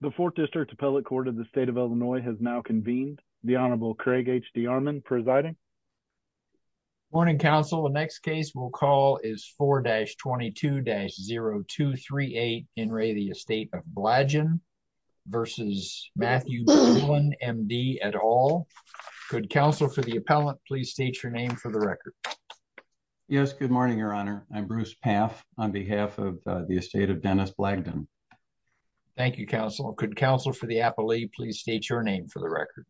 The 4th District Appellate Court of the State of Illinois has now convened. The Honorable Craig H. D'Armond presiding. Morning, Counsel. The next case we'll call is 4-22-0238, N. Ray, the Estate of Blagden v. Matthew Dillon, M.D., et al. Could Counsel for the Appellant please state your name for the record. Yes, good morning, Your Honor. I'm Bruce Pfaff on behalf of the Estate of Dennis Blagden. Thank you, Counsel. Could Counsel for the Appellee please state your name for the record.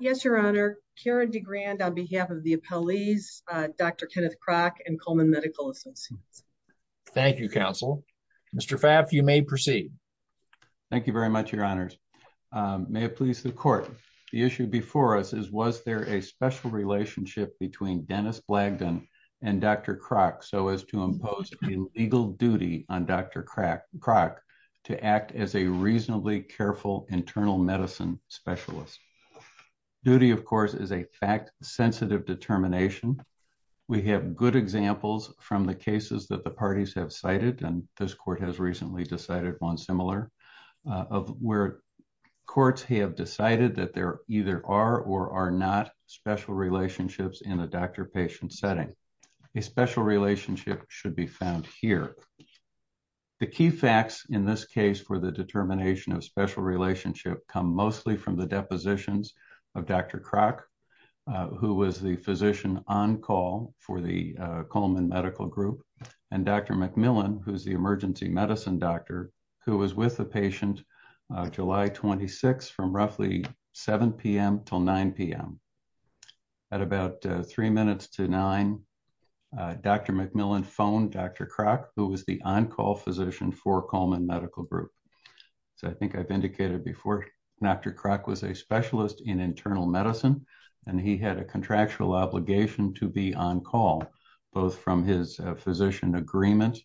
Yes, Your Honor. Karen DeGrand on behalf of the Appellees, Dr. Kenneth Kroc, and Coleman Medical Associates. Thank you, Counsel. Mr. Pfaff, you may proceed. Thank you very much, Your Honors. May it please the Court, the issue before us is was there a special relationship between Dennis Blagden and Dr. Kroc so as to impose a legal duty on Dr. Kroc to act as a reasonably careful internal medicine specialist? Duty, of course, is a fact-sensitive determination. We have good examples from the cases that the parties have cited, and this Court has recently decided one similar, of where courts have decided that there either are or are not special relationships in a doctor-patient setting. A special relationship should be found here. The key facts in this case for the determination of special relationship come mostly from the depositions of Dr. Kroc, who was the physician on call for the Coleman Medical Group, and Dr. McMillan, who's the emergency medicine doctor, who was with the patient July 26 from roughly 7 p.m. till 9 p.m. At about three minutes to nine, Dr. McMillan phoned Dr. Kroc, who was the on-call physician for Coleman Medical Group. I think I've indicated before, Dr. Kroc was a specialist in internal medicine, and he had a contractual obligation to be on call, both from his physician agreement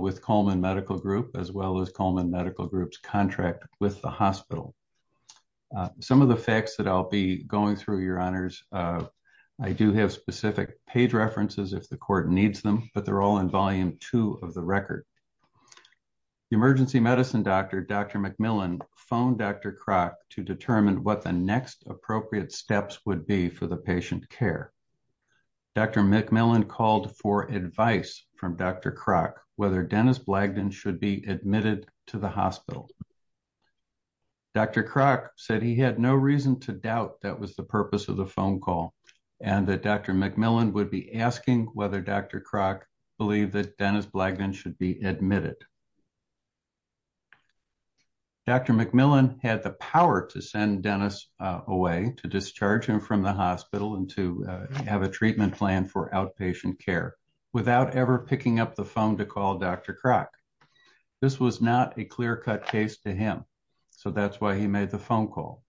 with Coleman Medical Group, as well as Coleman Medical Group's contract with the hospital. Some of the facts that I'll be going through, Your Honors, I do have specific page references if the Court needs them, but they're all in Volume 2 of the record. The emergency medicine doctor, Dr. McMillan, phoned Dr. Kroc to determine what the next appropriate steps would be for the patient care. Dr. McMillan called for advice from Dr. Kroc whether Dennis Blagdon should be admitted to the hospital. Dr. Kroc said he had no reason to doubt that was the purpose of the phone call, and that Dr. McMillan would be asking whether Dr. Kroc believed that Dennis Blagdon should be admitted. Dr. McMillan had the power to send Dennis away, to discharge him from the hospital and to have a treatment plan for outpatient care, without ever picking up the phone to call Dr. Kroc. This was not a clear-cut case to him, so that's why he made the phone call.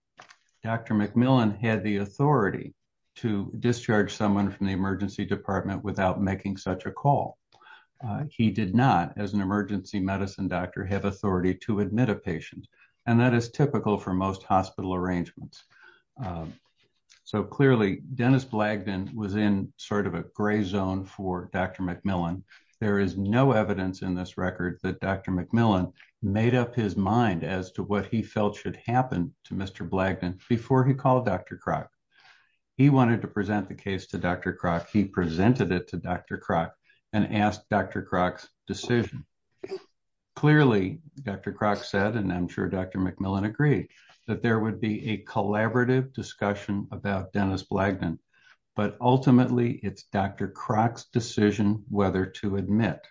Dr. McMillan had the authority to discharge someone from the emergency department without making such a call. He did not, as an emergency medicine doctor, have authority to admit a patient, and that is typical for most hospital arrangements. So clearly, Dennis Blagdon was in sort of a gray zone for Dr. McMillan. There is no evidence in this record that Dr. McMillan made up his mind as to what he felt should happen to Mr. Blagdon before he called Dr. Kroc. He wanted to present the case to Dr. Kroc. He presented it to Dr. Kroc and asked Dr. Kroc's decision. Clearly, Dr. Kroc said, and I'm sure Dr. McMillan agreed, that there would be a collaborative discussion about Dennis Blagdon, but ultimately, it's Dr. Kroc's decision whether to admit.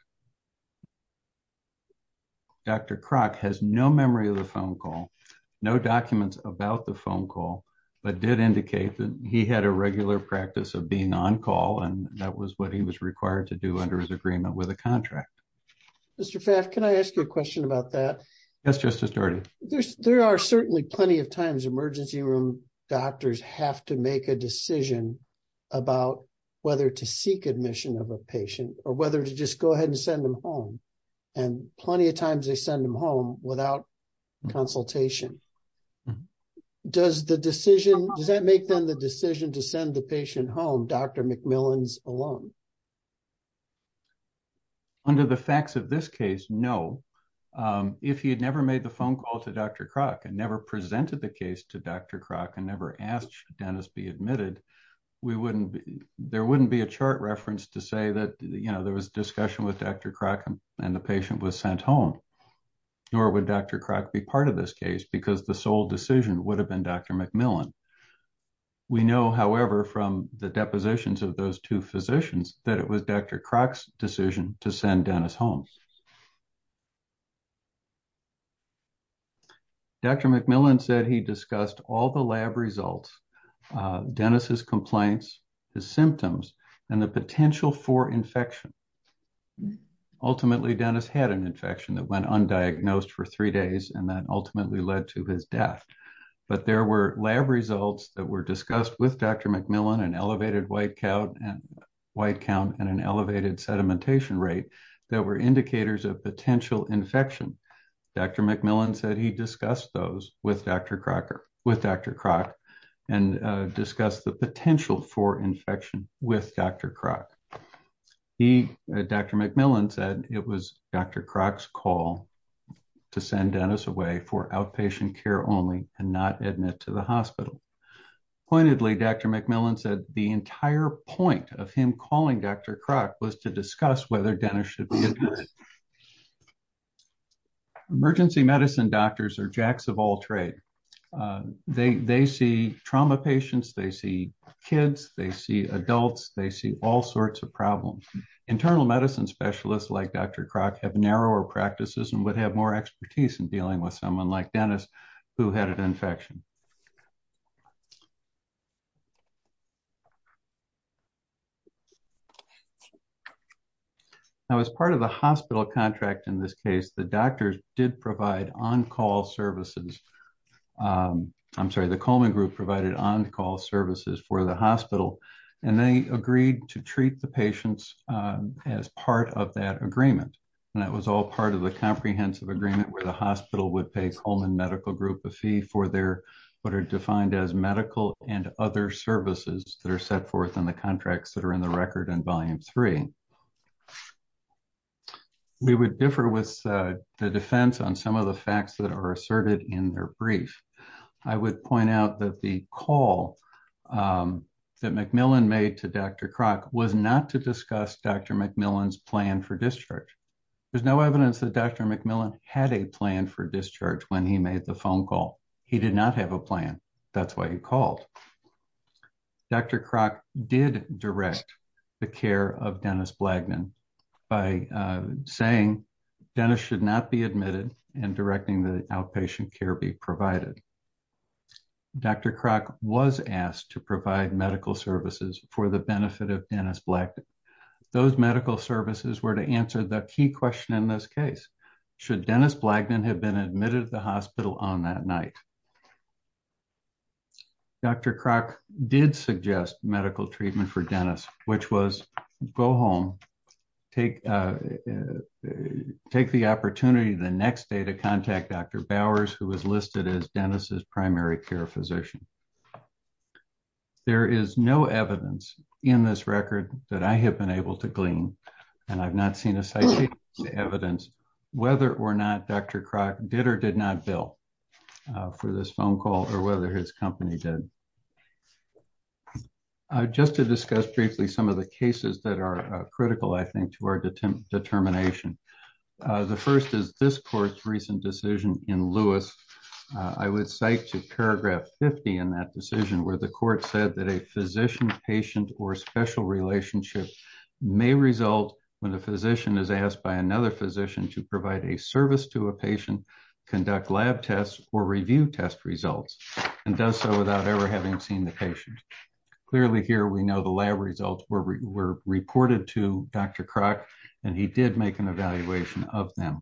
Dr. Kroc has no memory of the phone call, no documents about the phone call, but did indicate that he had a regular practice of being on call, and that was what he was required to do under his agreement with a contract. Mr. Pfaff, can I ask you a question about that? Yes, Justice Doherty. There are certainly plenty of times emergency room doctors have to make a decision about whether to seek admission of a patient or whether to just go ahead and send them home, and plenty of times they send them home without consultation. Does that make them the decision to send the patient home, Dr. McMillan's alone? Under the facts of this case, no. If he had never made the phone call to Dr. Kroc and never presented the case to Dr. Kroc and never asked Dennis to be admitted, there wouldn't be a chart reference to say that there was discussion with Dr. Kroc and the patient was sent home, nor would Dr. Kroc be part of this case because the sole decision would have been Dr. McMillan. We know, however, from the depositions of those two physicians that it was Dr. Kroc's decision to send Dennis home. Dr. McMillan said he discussed all the lab results, Dennis's complaints, his symptoms, and the potential for infection. Ultimately, Dennis had an infection that went undiagnosed for three days, and that ultimately led to his death. But there were lab results that were discussed with Dr. McMillan, an elevated white count and an elevated sedimentation rate, that were indicators of potential infection. Dr. McMillan said he discussed those with Dr. Kroc and discussed the potential for infection with Dr. Kroc. Dr. McMillan said it was Dr. Kroc's call to send Dennis away for outpatient care only and not admit to the hospital. Pointedly, Dr. McMillan said the entire point of him calling Dr. Kroc was to discuss whether Dennis should be admitted. Emergency medicine doctors are jacks of all trade. They see trauma patients, they see kids, they see adults, they see all sorts of problems. Internal medicine specialists like Dr. Kroc have narrower practices and would have more expertise in dealing with someone like Dennis who had an infection. Now, as part of the hospital contract in this case, the doctors did provide on-call services. I'm sorry, the Coleman Group provided on-call services for the hospital, and they agreed to treat the patients as part of that agreement. That was all part of the comprehensive agreement where the hospital would pay Coleman Medical Group a fee for what are defined as medical and other services that are set forth in the contracts that are in the record in Volume 3. We would differ with the defense on some of the facts that are asserted in their brief. I would point out that the call that McMillan made to Dr. Kroc was not to discuss Dr. McMillan's plan for discharge. There's no evidence that Dr. McMillan had a plan for discharge when he made the phone call. He did not have a plan. That's why he called. Dr. Kroc did direct the care of Dennis Blagdon by saying Dennis should not be admitted and directing the outpatient care be provided. Dr. Kroc was asked to provide medical services for the benefit of Dennis Blagdon. Those medical services were to answer the key question in this case. Should Dennis Blagdon have been admitted to the hospital on that night? Dr. Kroc did suggest medical treatment for Dennis, which was go home, take the opportunity the next day to contact Dr. Bowers, who was listed as Dennis's primary care physician. There is no evidence in this record that I have been able to glean, and I've not seen a citation of evidence, whether or not Dr. Kroc did or did not bill for this phone call or whether his company did. Just to discuss briefly some of the cases that are critical, I think, to our determination. The first is this court's recent decision in Lewis. I would cite to paragraph 50 in that decision where the court said that a physician, patient, or special relationship may result when a physician is asked by another physician to provide a service to a patient, conduct lab tests, or review test results, and does so without ever having seen the patient. Clearly here we know the lab results were reported to Dr. Kroc, and he did make an evaluation of them.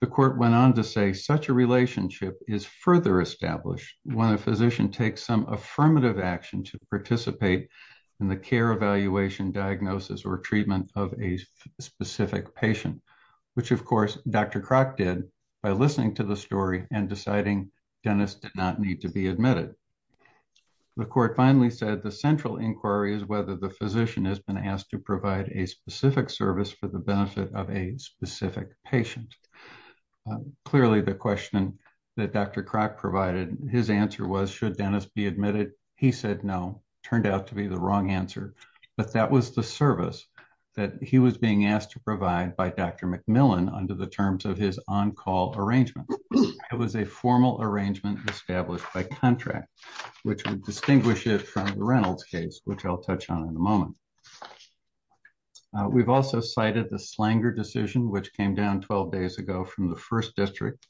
The court went on to say such a relationship is further established when a physician takes some affirmative action to participate in the care evaluation diagnosis or treatment of a specific patient, which of course Dr. Kroc did by listening to the story and deciding Dennis did not need to be admitted. The court finally said the central inquiry is whether the physician has been asked to provide a specific service for the benefit of a specific patient. Clearly the question that Dr. Kroc provided, his answer was should Dennis be admitted? He said no, turned out to be the wrong answer, but that was the service that he was being asked to provide by Dr. McMillan under the terms of his on-call arrangement. It was a formal arrangement established by contract, which would distinguish it from the Reynolds case, which I'll touch on in a moment. We've also cited the Slanger decision, which came down 12 days ago from the first district,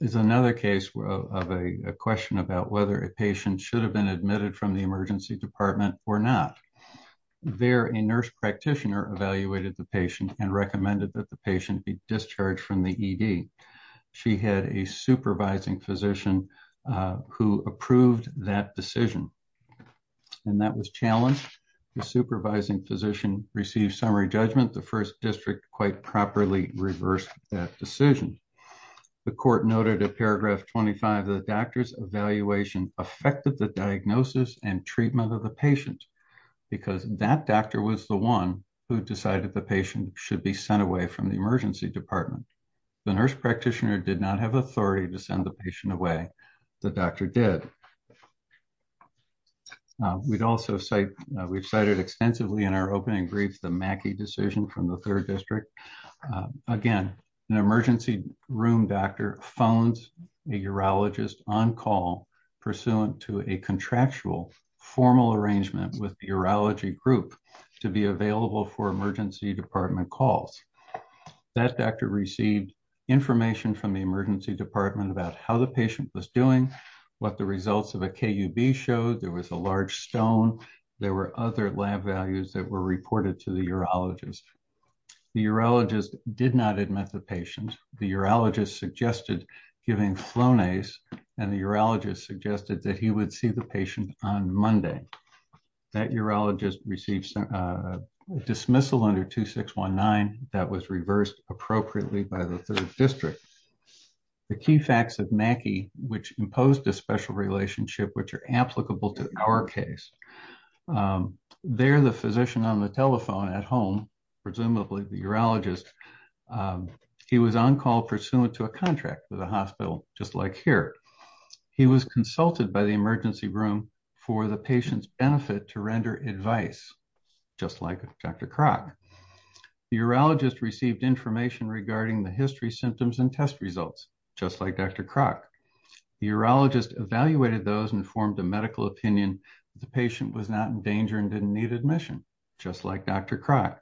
is another case of a question about whether a patient should have been admitted from the emergency department or not. There, a nurse practitioner evaluated the patient and recommended that the patient be discharged from the ED. She had a supervising physician who approved that decision, and that was challenged. The supervising physician received summary judgment. The first district quite properly reversed that decision. The court noted in paragraph 25 that the doctor's evaluation affected the diagnosis and treatment of the patient, because that doctor was the one who decided the patient should be sent away from the emergency department. The nurse practitioner did not have authority to send the patient away. The doctor did. We've cited extensively in our opening brief the Mackey decision from the third district. Again, an emergency room doctor phones a urologist on-call pursuant to a contractual formal arrangement with the urology group to be available for emergency department calls. That doctor received information from the emergency department about how the patient was doing, what the results of a KUB showed, there was a large stone, there were other lab values that were reported to the urologist. The urologist did not admit the patient. The urologist suggested giving flownase, and the urologist suggested that he would see the patient on Monday. That urologist received a dismissal under 2619 that was reversed appropriately by the third district. The key facts of Mackey, which imposed a special relationship which are applicable to our case. There, the physician on the telephone at home, presumably the urologist, he was on-call pursuant to a contract with the hospital, just like here. He was consulted by the emergency room for the patient's benefit to render advice, just like Dr. Kroc. The urologist received information regarding the history, symptoms, and test results, just like Dr. Kroc. The urologist evaluated those and formed a medical opinion that the patient was not in danger and didn't need admission, just like Dr. Kroc.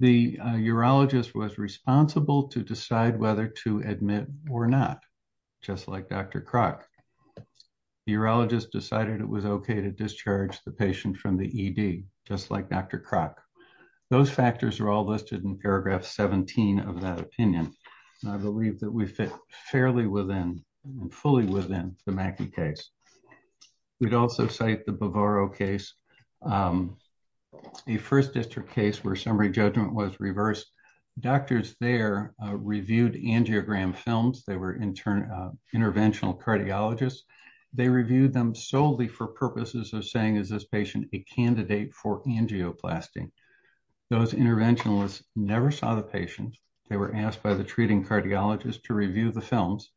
The urologist was responsible to decide whether to admit or not, just like Dr. Kroc. The urologist decided it was okay to discharge the patient from the ED, just like Dr. Kroc. Those factors are all listed in paragraph 17 of that opinion. I believe that we fit fairly within and fully within the Mackey case. We'd also cite the Bovaro case, a First District case where summary judgment was reversed. Doctors there reviewed angiogram films. They were interventional cardiologists. They reviewed them solely for purposes of saying, is this patient a candidate for angioplasty? Those interventionalists never saw the patient. They were asked by the treating cardiologist to review the films.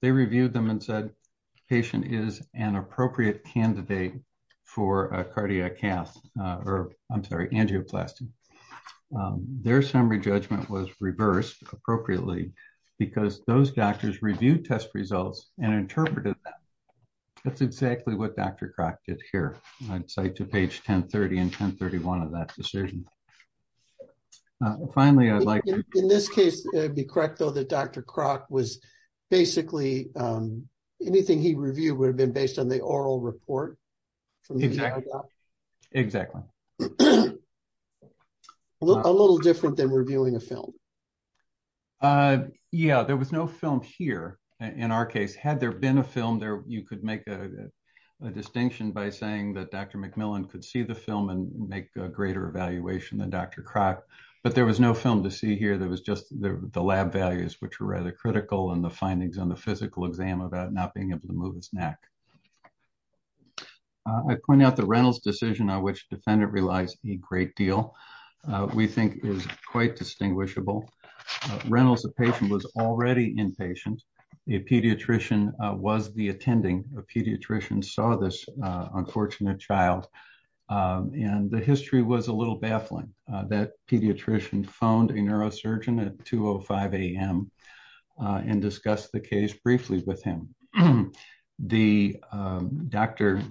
They reviewed them and said the patient is an appropriate candidate for angioplasty. Their summary judgment was reversed appropriately because those doctors reviewed test results and interpreted them. That's exactly what Dr. Kroc did here. I'd cite to page 1030 and 1031 of that decision. Finally, I'd like... In this case, it would be correct, though, that Dr. Kroc was basically... Anything he reviewed would have been based on the oral report. Exactly. A little different than reviewing a film. Yeah, there was no film here in our case. Had there been a film, you could make a distinction by saying that Dr. McMillan could see the film and make a greater evaluation than Dr. Kroc, but there was no film to see here. There was just the lab values, which were rather critical, and the findings on the physical exam about not being able to move his neck. I point out the Reynolds decision on which defendant relies a great deal. We think is quite distinguishable. Reynolds, the patient, was already inpatient. The pediatrician was the attending. The pediatrician saw this unfortunate child, and the history was a little baffling. That pediatrician phoned a neurosurgeon at 2.05 a.m. and discussed the case briefly with him. The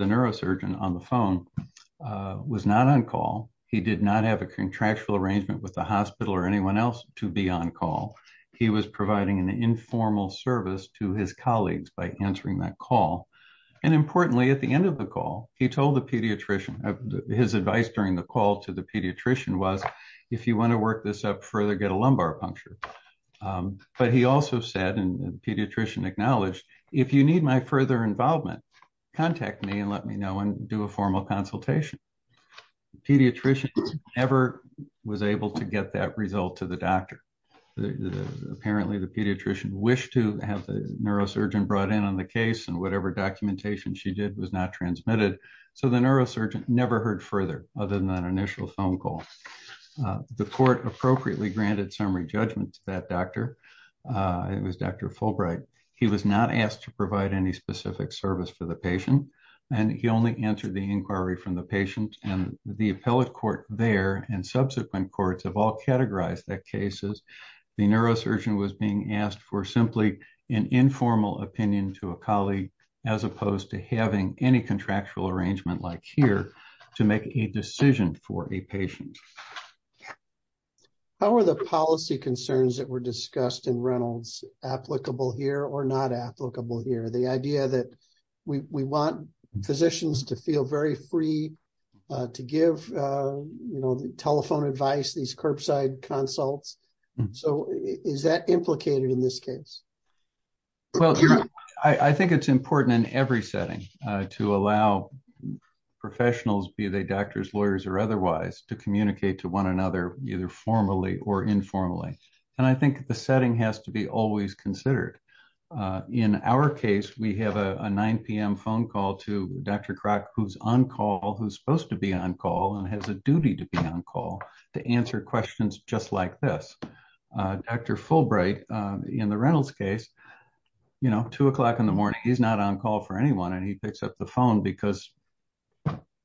neurosurgeon on the phone was not on call. He did not have a contractual arrangement with the hospital or anyone else to be on call. He was providing an informal service to his colleagues by answering that call. Importantly, at the end of the call, he told the pediatrician. His advice during the call to the pediatrician was, if you want to work this up further, get a lumbar puncture. He also said, and the pediatrician acknowledged, if you need my further involvement, contact me and let me know and do a formal consultation. The pediatrician never was able to get that result to the doctor. Apparently, the pediatrician wished to have the neurosurgeon brought in on the case. Whatever documentation she did was not transmitted. The neurosurgeon never heard further other than that initial phone call. The court appropriately granted summary judgment to that doctor. It was Dr. Fulbright. He was not asked to provide any specific service for the patient. He only answered the inquiry from the patient. The appellate court there and subsequent courts have all categorized the cases. The neurosurgeon was being asked for simply an informal opinion to a colleague as opposed to having any contractual arrangement like here to make a decision for a patient. How are the policy concerns that were discussed in Reynolds applicable here or not applicable here? The idea that we want physicians to feel very free to give telephone advice, these curbside consults. Is that implicated in this case? I think it's important in every setting to allow professionals, be they doctors, lawyers or otherwise, to communicate to one another either formally or informally. I think the setting has to be always considered. In our case, we have a 9 p.m. phone call to Dr. Crock who's on call, who's supposed to be on call and has a duty to be on call to answer questions just like this. Dr. Fulbright in the Reynolds case, 2 o'clock in the morning, he's not on call for anyone and he picks up the phone because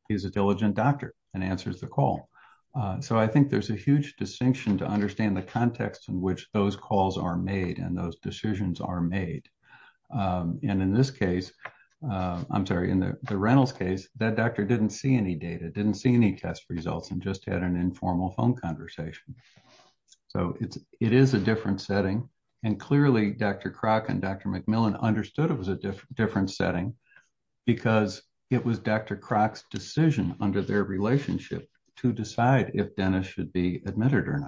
he's a diligent doctor and answers the call. I think there's a huge distinction to understand the context in which those calls are made and those decisions are made. In this case, I'm sorry, in the Reynolds case, that doctor didn't see any data, didn't see any test results and just had an informal phone conversation. It is a different setting and clearly Dr. Crock and Dr. McMillan understood it was a different setting because it was Dr. Crock's decision under their relationship to decide if Dennis should be admitted or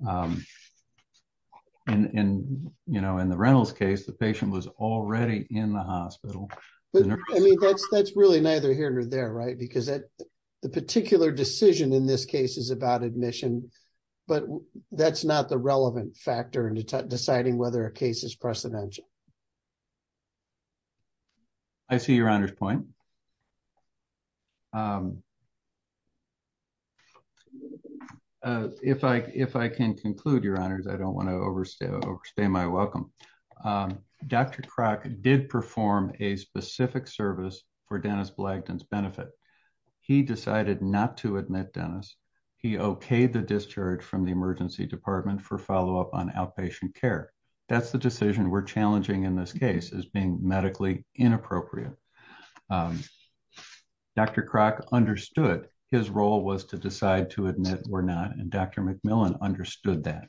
not. In the Reynolds case, the patient was already in the hospital. That's really neither here nor there because the particular decision in this case is about admission, but that's not the relevant factor in deciding whether a case is precedential. I see your honor's point. If I can conclude, your honors, I don't want to overstay my welcome. Dr. Crock did perform a specific service for Dennis Blagdon's benefit. He decided not to admit Dennis. He okayed the discharge from the emergency department for follow-up on outpatient care. That's the decision we're challenging in this case as being medically inappropriate. Dr. Crock understood his role was to decide to admit or not and Dr. McMillan understood that.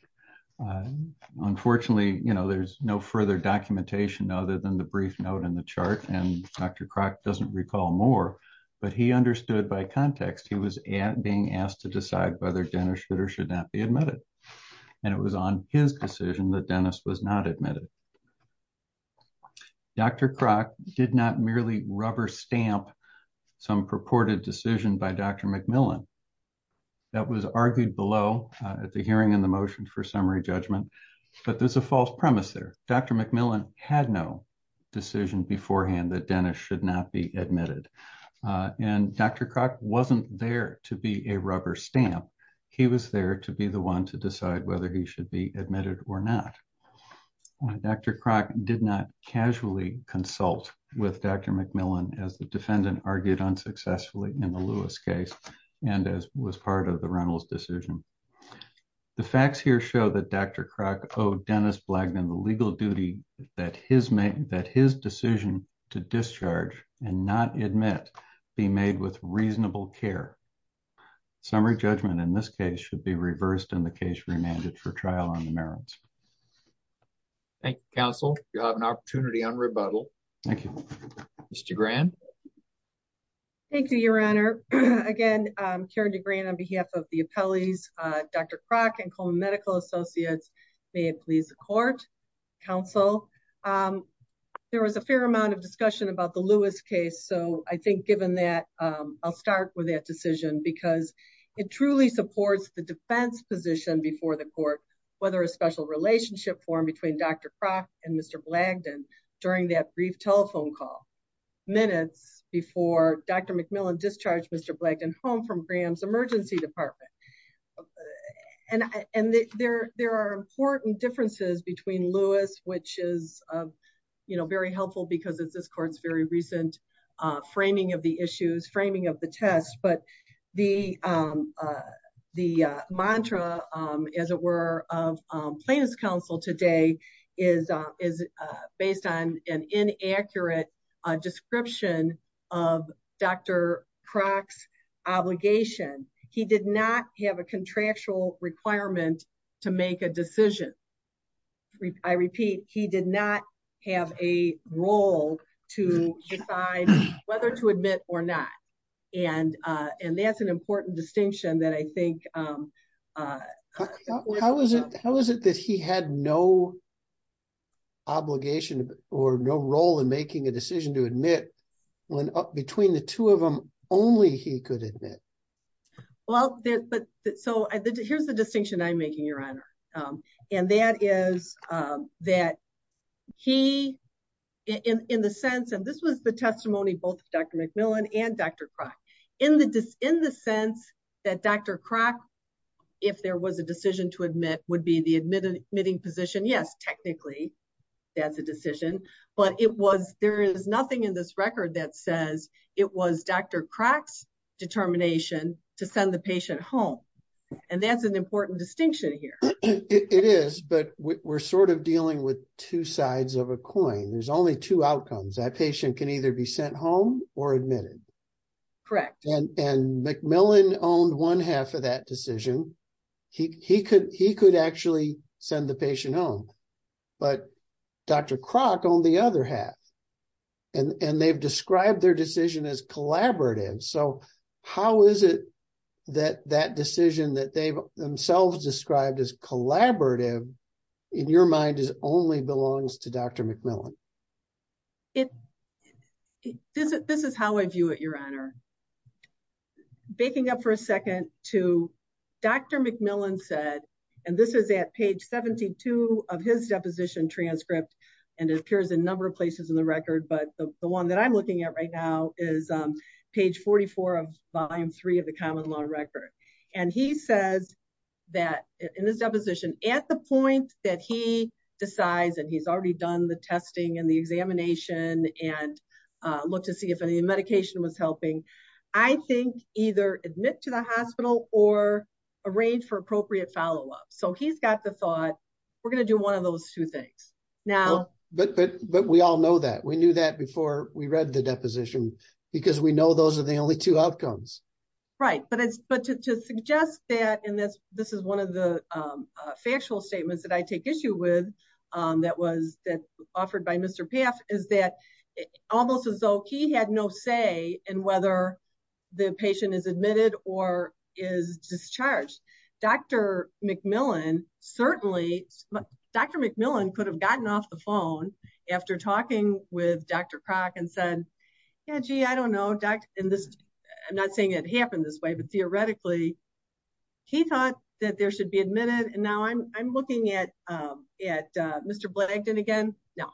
Unfortunately, there's no further documentation other than the brief note in the chart and Dr. Crock doesn't recall more, but he understood by context he was being asked to decide whether Dennis should or should not be admitted. It was on his decision that Dennis was not admitted. Dr. Crock did not merely rubber stamp some purported decision by Dr. McMillan. That was argued below at the hearing in the motion for summary judgment, but there's a false premise there. Dr. McMillan had no decision beforehand that Dennis should not be admitted and Dr. Crock wasn't there to be a rubber stamp. He was there to be the one to decide whether he should be admitted or not. Dr. Crock did not casually consult with Dr. McMillan as the defendant argued unsuccessfully in the Lewis case and as was part of the Reynolds decision. The facts here show that Dr. Crock owed Dennis Blagdon the legal duty that his decision to discharge and not admit be made with reasonable care. Summary judgment in this case should be reversed and the case remanded for trial on the merits. Thank you, counsel. You have an opportunity on rebuttal. Thank you. Ms. DeGran. Thank you, Your Honor. Again, Karen DeGran on behalf of the appellees, Dr. Crock and Coleman Medical Associates, may it please the court, counsel. There was a fair amount of discussion about the Lewis case, so I think given that, I'll start with that decision because it truly supports the defense position before the court, whether a special relationship formed between Dr. Crock and Mr. Blagdon during that brief telephone call minutes before Dr. McMillan discharged Mr. Blagdon home from Graham's emergency department. And there are important differences between Lewis, which is very helpful because it's this court's very recent framing of the issues, framing of the test. But the mantra, as it were, of plaintiff's counsel today is based on an inaccurate description of Dr. Crock's obligation. He did not have a contractual requirement to make a decision. I repeat, he did not have a role to decide whether to admit or not. And that's an important distinction that I think. How is it that he had no obligation or no role in making a decision to admit when up between the two of them only he could admit? Well, so here's the distinction I'm making, Your Honor. And that is that he, in the sense, and this was the testimony both of Dr. McMillan and Dr. Crock, in the sense that Dr. Crock, if there was a decision to admit, would be the admitting position. Yes, technically, that's a decision, but it was, there is nothing in this record that says it was Dr. Crock's determination to send the patient home. And that's an important distinction here. It is, but we're sort of dealing with two sides of a coin. There's only two outcomes. That patient can either be sent home or admitted. And McMillan owned one half of that decision. He could actually send the patient home, but Dr. Crock owned the other half. And they've described their decision as collaborative. So how is it that that decision that they've themselves described as collaborative, in your mind, only belongs to Dr. McMillan? This is how I view it, Your Honor. Baking up for a second to Dr. McMillan said, and this is at page 72 of his deposition transcript, and it appears in a number of places in the record. But the one that I'm looking at right now is page 44 of Volume 3 of the Common Law Record. And he says that in his deposition, at the point that he decides, and he's already done the testing and the examination and looked to see if any medication was helping. I think either admit to the hospital or arrange for appropriate follow-up. So he's got the thought, we're going to do one of those two things. But we all know that. We knew that before we read the deposition, because we know those are the only two outcomes. Right. But to suggest that, and this is one of the factual statements that I take issue with, that was offered by Mr. Paff, is that almost as though he had no say in whether the patient is admitted or is discharged. Dr. McMillan certainly, Dr. McMillan could have gotten off the phone after talking with Dr. Crock and said, yeah, gee, I don't know. I'm not saying it happened this way, but theoretically, he thought that there should be admitted. And now I'm looking at Mr. Blagdon again. No,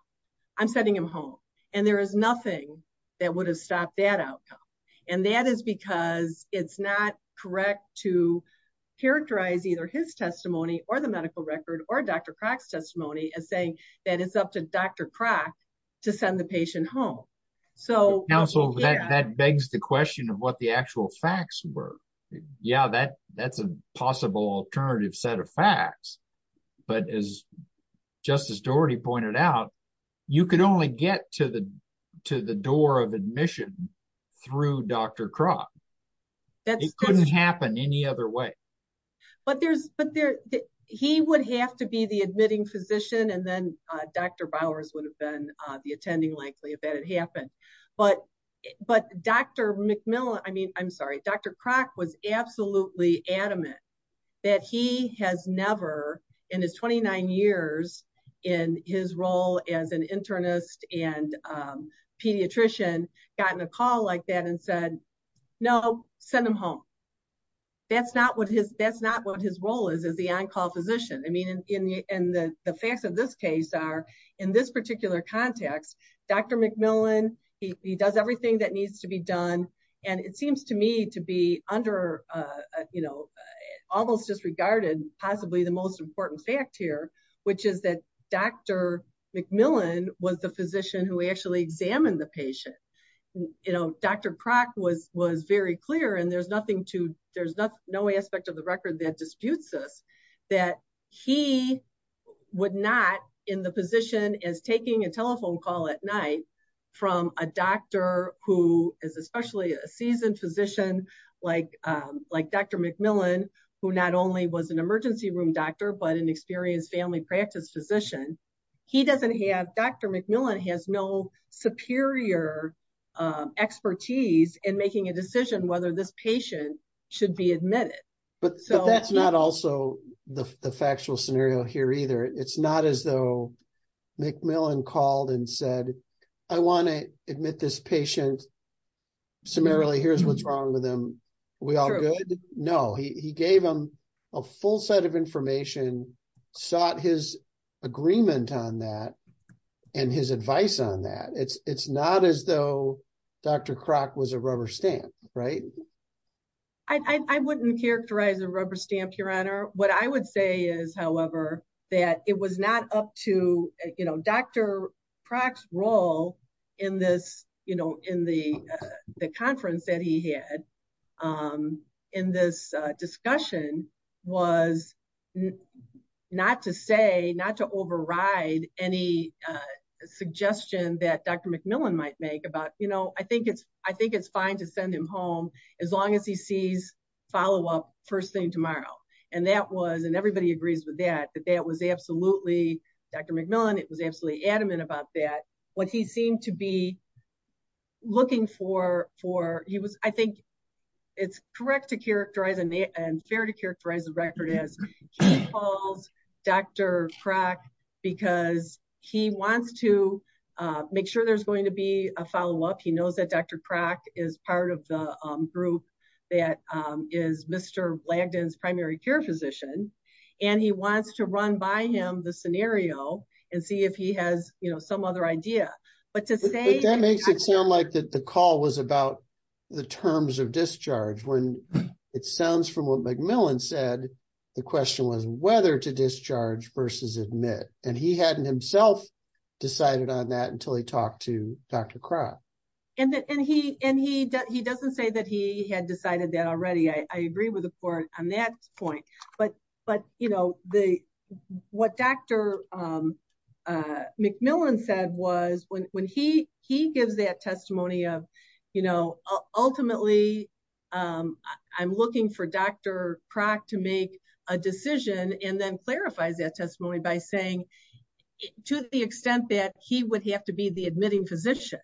I'm sending him home. And there is nothing that would have stopped that outcome. And that is because it's not correct to characterize either his testimony or the medical record or Dr. Crock's testimony as saying that it's up to Dr. Crock to send the patient home. Counsel, that begs the question of what the actual facts were. Yeah, that's a possible alternative set of facts. But as Justice Dougherty pointed out, you could only get to the door of admission through Dr. Crock. It couldn't happen any other way. But he would have to be the admitting physician and then Dr. Bowers would have been the attending likely if that had happened. But Dr. Crock was absolutely adamant that he has never in his 29 years in his role as an internist and pediatrician gotten a call like that and said, no, send him home. That's not what his role is as the on-call physician. I mean, and the facts of this case are in this particular context, Dr. McMillan, he does everything that needs to be done. And it seems to me to be under, you know, almost disregarded possibly the most important fact here, which is that Dr. McMillan was the physician who actually examined the patient. You know, Dr. Crock was very clear, and there's nothing to, there's no aspect of the record that disputes this, that he would not in the position as taking a telephone call at night from a doctor who is especially a seasoned physician like Dr. McMillan, who not only was an emergency room doctor, but an experienced family practice physician. He doesn't have, Dr. McMillan has no superior expertise in making a decision whether this patient should be admitted. But that's not also the factual scenario here either. It's not as though McMillan called and said, I want to admit this patient. Summarily, here's what's wrong with him. We all good? No, he gave him a full set of information, sought his agreement on that, and his advice on that. It's not as though Dr. Crock was a rubber stamp, right? I wouldn't characterize a rubber stamp, Your Honor. What I would say is, however, that it was not up to, you know, Dr. Crock's role in this, you know, in the conference that he had in this discussion was not to say, not to override any suggestion that Dr. McMillan might make about, you know, I think it's, I think it's fine to send him home. As long as he sees follow-up first thing tomorrow. And that was, and everybody agrees with that, that that was absolutely, Dr. McMillan, it was absolutely adamant about that. What he seemed to be looking for, for he was, I think it's correct to characterize and fair to characterize the record as he calls Dr. Crock because he wants to make sure there's going to be a follow-up. He knows that Dr. Crock is part of the group that is Mr. Langdon's primary care physician, and he wants to run by him the scenario and see if he has, you know, some other idea. That makes it sound like the call was about the terms of discharge when it sounds from what McMillan said, the question was whether to discharge versus admit, and he hadn't himself decided on that until he talked to Dr. Crock. And he, and he, he doesn't say that he had decided that already. I agree with the court on that point. But, but, you know, the, what Dr. McMillan said was when he, he gives that testimony of, you know, ultimately, I'm looking for Dr. Crock to make a decision and then clarifies that testimony by saying, to the extent that he would have to be the admitting physician.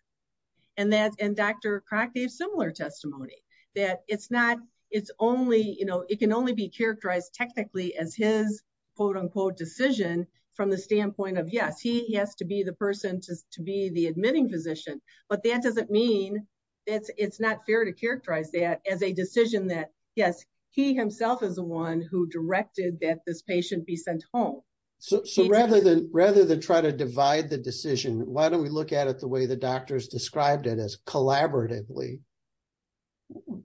And that, and Dr. Crock gave similar testimony that it's not, it's only, you know, it can only be characterized technically as his quote unquote decision from the standpoint of, yes, he has to be the person to be the admitting physician. But that doesn't mean that it's not fair to characterize that as a decision that, yes, he himself is the one who directed that this patient be sent home. So rather than rather than try to divide the decision, why don't we look at it the way the doctors described it as collaboratively.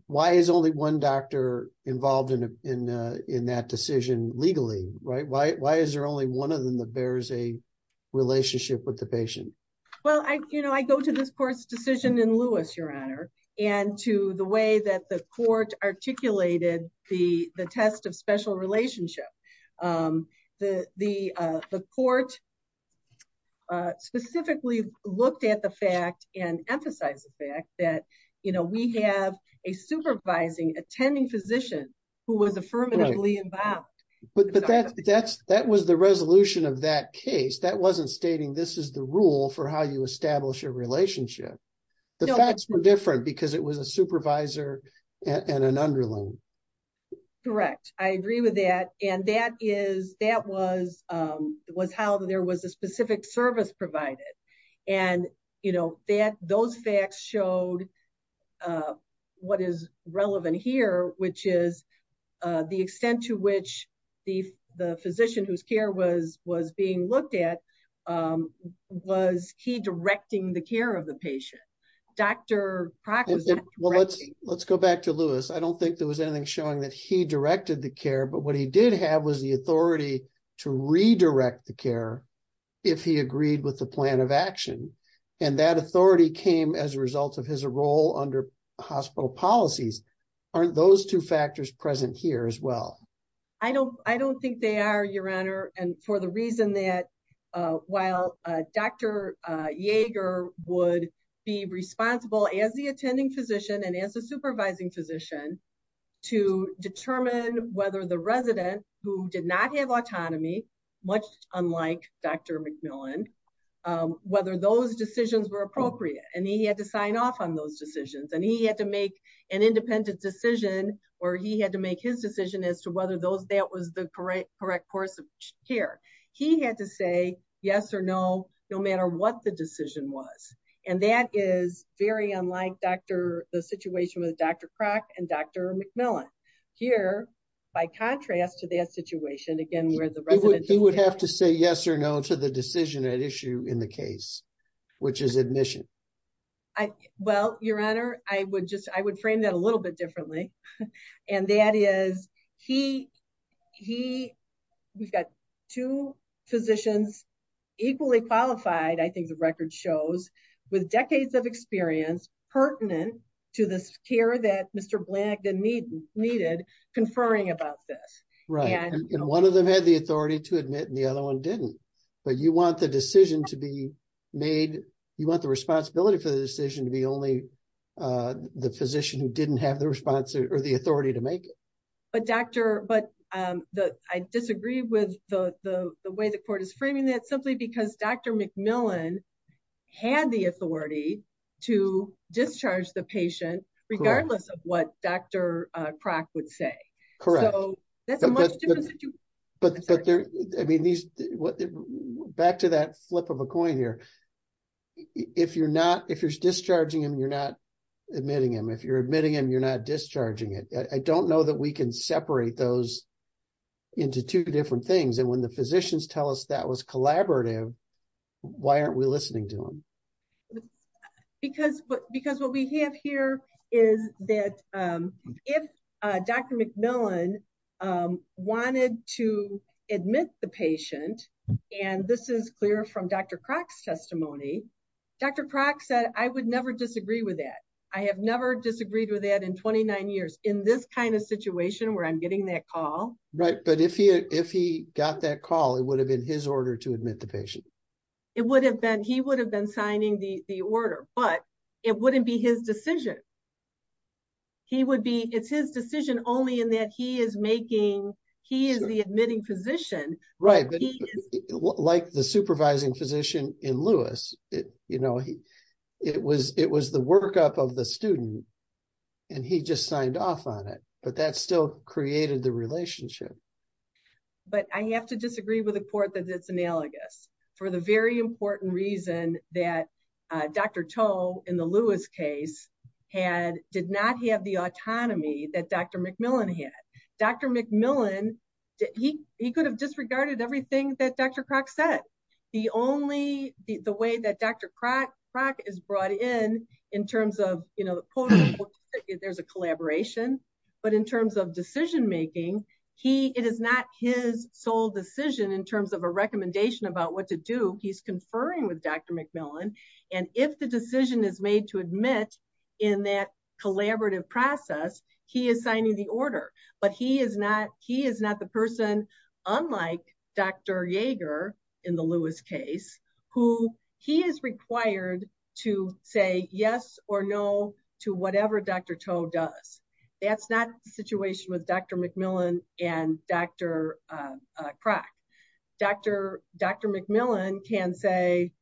Why is only one doctor involved in, in, in that decision legally right why why is there only one of them that bears a relationship with the patient. Well, I, you know, I go to this course decision in Lewis, Your Honor, and to the way that the court articulated the, the test of special relationship. The, the, the court specifically looked at the fact and emphasize the fact that, you know, we have a supervising attending physician who was affirmatively involved. But that's, that's, that was the resolution of that case that wasn't stating this is the rule for how you establish a relationship. The facts were different because it was a supervisor and an underling. Correct. I agree with that. And that is, that was, was how there was a specific service provided. And, you know, that those facts showed what is relevant here, which is the extent to which the, the physician whose care was was being looked at. Was he directing the care of the patient. Dr. Well, let's, let's go back to Lewis. I don't think there was anything showing that he directed the care but what he did have was the authority to redirect the care. If he agreed with the plan of action, and that authority came as a result of his role under hospital policies. Aren't those two factors present here as well. I don't, I don't think they are your honor. And for the reason that while Dr. Yeager would be responsible as the attending physician and as a supervising physician to determine whether the resident who did not have autonomy, much unlike Dr. whether those that was the correct correct course of care. He had to say yes or no, no matter what the decision was. And that is very unlike Dr. The situation with Dr. Crock and Dr. MacMillan here. By contrast to that situation again where the resident who would have to say yes or no to the decision at issue in the case, which is admission. Well, your honor, I would just I would frame that a little bit differently. And that is, he, he. We've got two physicians equally qualified I think the record shows with decades of experience pertinent to this care that Mr. needed conferring about this. Right. And one of them had the authority to admit and the other one didn't. But you want the decision to be made. You want the responsibility for the decision to be only the physician who didn't have the response or the authority to make it. But Dr. But the I disagree with the way the court is framing that simply because Dr. MacMillan had the authority to discharge the patient, regardless of what Dr. Crock would say. Correct. But there. I mean these back to that flip of a coin here. If you're not if you're discharging him you're not admitting him if you're admitting him you're not discharging it, I don't know that we can separate those into two different things and when the physicians tell us that was collaborative. Why aren't we listening to him. Because, because what we have here is that if Dr. MacMillan wanted to admit the patient. And this is clear from Dr. Crock's testimony. Dr. Crock said I would never disagree with that. I have never disagreed with that in 29 years in this kind of situation where I'm getting that call right but if he if he got that call it would have been his order to admit the patient. It would have been he would have been signing the order, but it wouldn't be his decision. He would be it's his decision only in that he is making. He is the admitting physician, right, like the supervising physician in Lewis, it, you know, he, it was, it was the workup of the student. And he just signed off on it, but that still created the relationship. But I have to disagree with the court that it's analogous for the very important reason that Dr. Toe in the Lewis case had did not have the autonomy that Dr. MacMillan had Dr. MacMillan, he, he could have disregarded everything that Dr. Crock is brought in, in terms of, you know, there's a collaboration, but in terms of decision making. He, it is not his sole decision in terms of a recommendation about what to do, he's conferring with Dr. Jaeger in the Lewis case, who he is required to say yes or no to whatever Dr. Toe does. That's not the situation with Dr. MacMillan, and Dr. Crock, Dr. Dr. MacMillan can say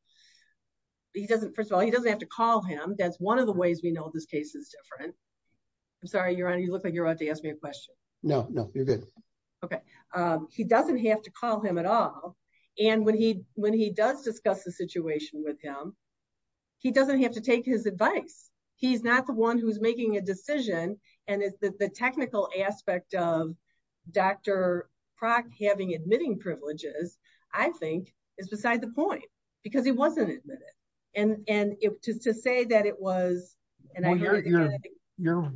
he doesn't first of all he doesn't have to call him that's one of the ways we know this case is different. I'm sorry you're on you look like you're about to ask me a question. No, no, you're good. Okay. He doesn't have to call him at all. And when he, when he does discuss the situation with him. He doesn't have to take his advice. He's not the one who's making a decision, and it's the technical aspect of Dr. Crock having admitting privileges, I think, is beside the point, because he wasn't admitted. And, and if just to say that it was, and I know you're, you're,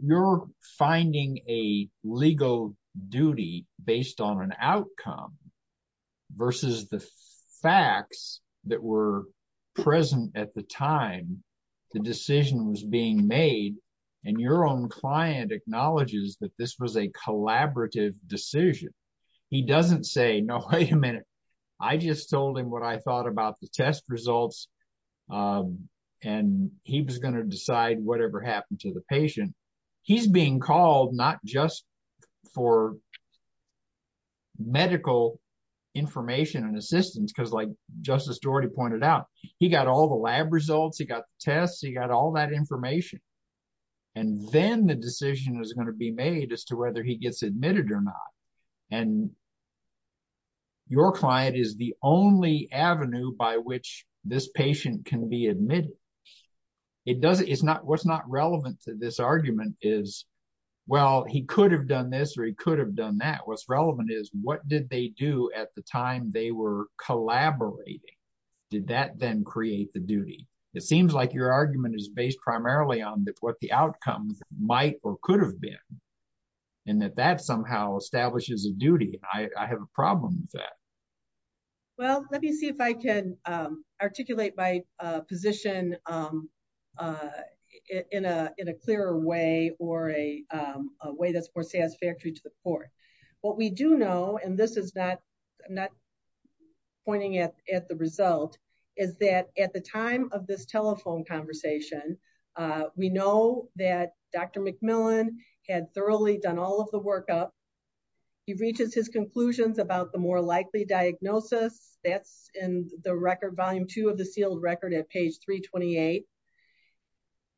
you're finding a legal duty, based on an outcome, versus the facts that were present at the time, the decision was being made, and your own client acknowledges that this was a collaborative decision. He doesn't say no, wait a minute. I just told him what I thought about the test results. And he was going to decide whatever happened to the patient. He's being called not just for medical information and assistance because like Justice already pointed out, he got all the lab results he got tests he got all that information. And then the decision is going to be made as to whether he gets admitted or not. And your client is the only avenue by which this patient can be admitted. It doesn't it's not what's not relevant to this argument is, well, he could have done this or he could have done that what's relevant is what did they do at the time they were collaborating. Did that then create the duty. It seems like your argument is based primarily on that what the outcomes might or could have been, and that that somehow establishes a duty, I have a problem with that. Well, let me see if I can articulate my position in a, in a clearer way, or a way that's more satisfactory to the court. What we do know and this is not not pointing at, at the result is that at the time of this telephone conversation. We know that Dr. McMillan had thoroughly done all of the work up. He reaches his conclusions about the more likely diagnosis, that's in the record volume two of the sealed record at page 328.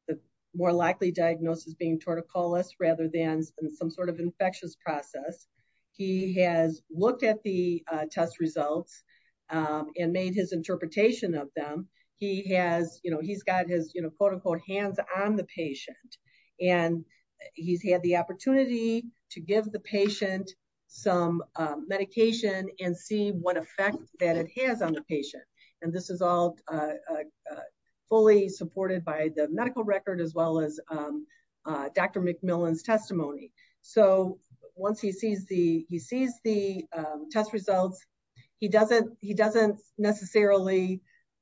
The more likely diagnosis being torticolous rather than some sort of infectious process. He has looked at the test results and made his interpretation of them, he has, you know, he's got his you know quote unquote hands on the patient. And he's had the opportunity to give the patient, some medication and see what effect that it has on the patient. And this is all fully supported by the medical record as well as Dr. McMillan's testimony. So, once he sees the, he sees the test results. He doesn't, he doesn't necessarily.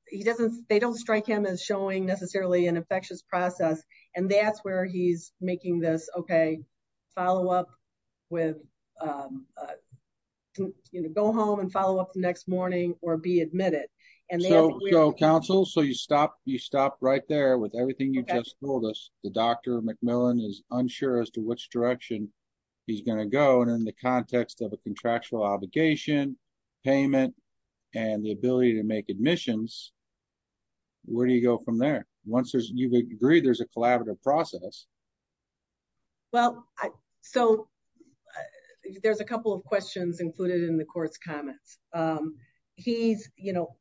He doesn't, they don't strike him as showing necessarily an infectious process, and that's where he's making this okay. Follow up with go home and follow up the next morning, or be admitted. And so, Council so you stop you stop right there with everything you just told us, the doctor McMillan is unsure as to which direction. He's going to go and in the context of a contractual obligation payment, and the ability to make admissions. Where do you go from there. Once there's you agree there's a collaborative process. Well, I, so there's a couple of questions included in the course comments. He's, you know,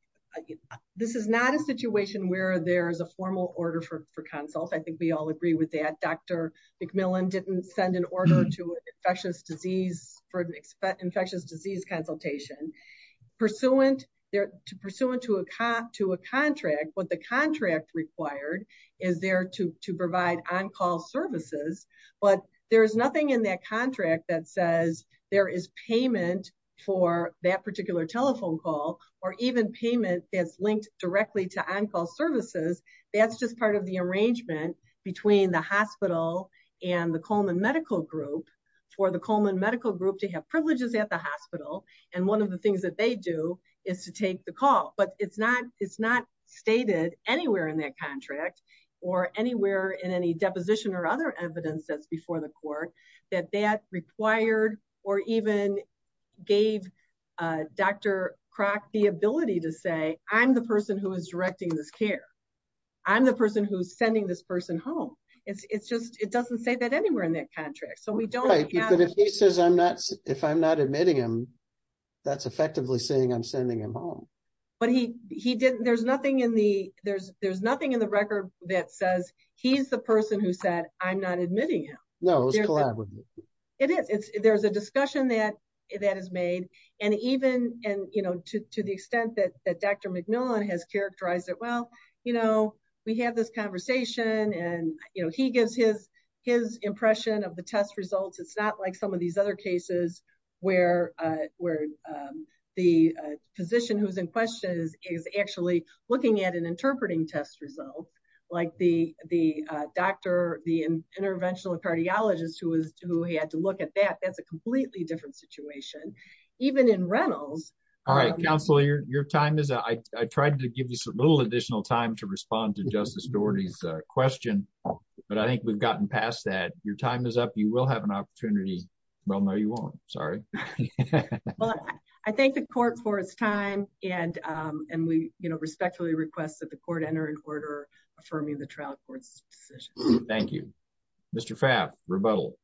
this is not a situation where there's a formal order for consult I think we all agree with that Dr. McMillan didn't send an order to infectious disease for an expect infectious disease consultation, pursuant there to pursuant to a cop to a contract required is there to provide on call services, but there's nothing in that contract that says there is payment for that particular telephone call, or even payment is linked directly to on call services. That's just part of the arrangement between the hospital and the Coleman medical group for the Coleman medical group to have privileges at the hospital. And one of the things that they do is to take the call but it's not, it's not stated anywhere in that contract or anywhere in any deposition or other evidence that's before the court that that required, or even gave Dr. Crock the ability to say, I'm the person who is directing this care. I'm the person who's sending this person home. It's just, it doesn't say that anywhere in that contract so we don't get if he says I'm not, if I'm not admitting him. That's effectively saying I'm sending him home, but he, he didn't there's nothing in the, there's, there's nothing in the record that says he's the person who said, I'm not admitting him. It is, it's, there's a discussion that that is made, and even, and you know to the extent that that Dr. McMillan has characterized it well, you know, we have this conversation and, you know, he gives his, his impression of the test results it's not like some of these other cases where, where the physician who's in questions is actually looking at an I tried to give you a little additional time to respond to Justice Doherty's question, but I think we've gotten past that your time is up, you will have an opportunity. Well no you won't. Sorry. I think the court for its time, and, and we, you know, respectfully request that the court enter in order for me the trial courts. Thank you, Mr fab rebuttal.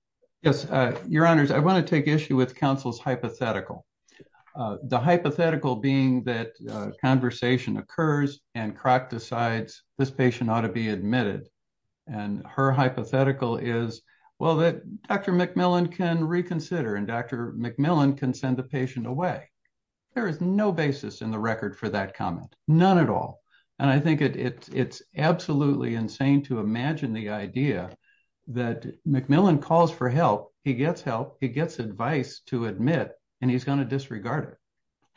Yes, Your Honor, I want to take issue with counsel's hypothetical. The hypothetical being that conversation occurs and crack decides this patient ought to be admitted. And her hypothetical is well that Dr. McMillan can reconsider and Dr. McMillan can send the patient away. There is no basis in the record for that comment, none at all. And I think it's it's absolutely insane to imagine the idea that McMillan calls for help, he gets help, he gets advice to admit, and he's going to disregard it.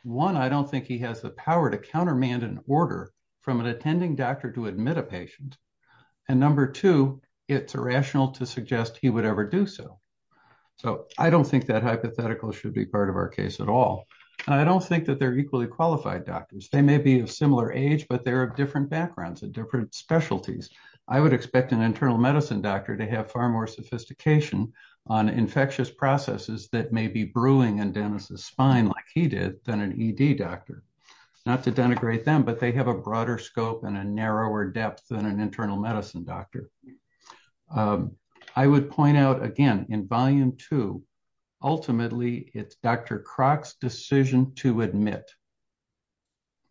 One I don't think he has the power to countermand an order from an attending doctor to admit a patient. And number two, it's irrational to suggest he would ever do so. So, I don't think that hypothetical should be part of our case at all. I don't think that they're equally qualified doctors they may be a similar age but there are different backgrounds and different specialties. I would expect an internal medicine doctor to have far more sophistication on infectious processes that may be brewing and Dennis's spine like he did, then an ED doctor, not to denigrate them but they have a broader scope and a narrower depth than an internal medicine doctor. I would point out again in volume two. Ultimately, it's Dr Croc's decision to admit.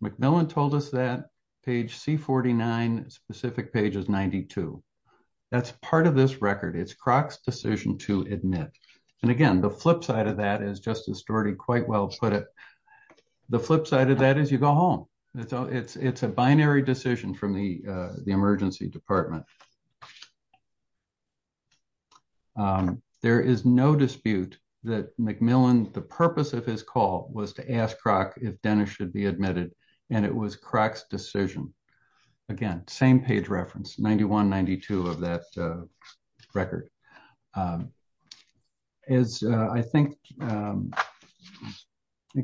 McMillan told us that page C49 specific pages 92. That's part of this record it's Croc's decision to admit. And again, the flip side of that is just a story quite well put it. The flip side of that is you go home. It's, it's a binary decision from the emergency department. There is no dispute that McMillan, the purpose of his call was to ask Croc if Dennis should be admitted, and it was Croc's decision. Again, same page reference 9192 of that record. As I think.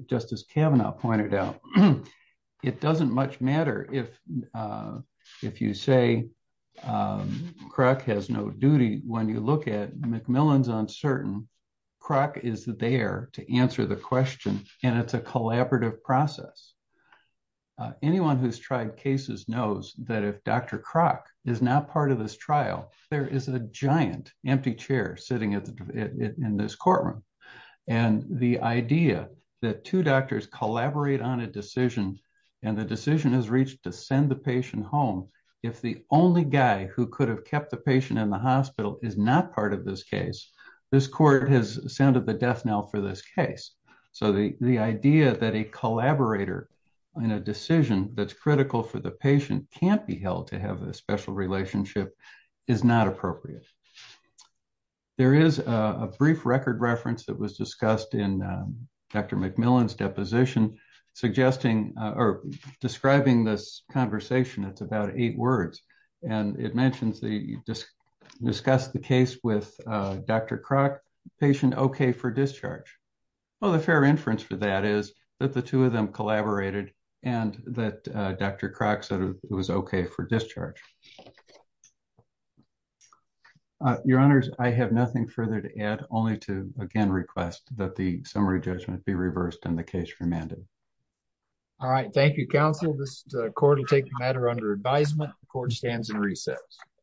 Justice Kavanaugh pointed out, it doesn't much matter if. If you say, crack has no duty, when you look at McMillan's uncertain crack is there to answer the question, and it's a collaborative process. Anyone who's tried cases knows that if Dr Croc is not part of this trial, there is a giant empty chair sitting in this courtroom. And the idea that two doctors collaborate on a decision, and the decision is reached to send the patient home. If the only guy who could have kept the patient in the hospital is not part of this case. This court has sounded the death knell for this case. So the, the idea that a collaborator in a decision that's critical for the patient can't be held to have a special relationship is not appropriate. There is a brief record reference that was discussed in Dr McMillan's deposition, suggesting, or describing this conversation it's about eight words, and it mentions the discuss the case with Dr Croc patient okay for discharge. Well, the fair inference for that is that the two of them collaborated, and that Dr Croc said it was okay for discharge. Your Honors, I have nothing further to add, only to again request that the summary judgment be reversed and the case remanded. All right, thank you counsel this court will take the matter under advisement, the court stands in recess.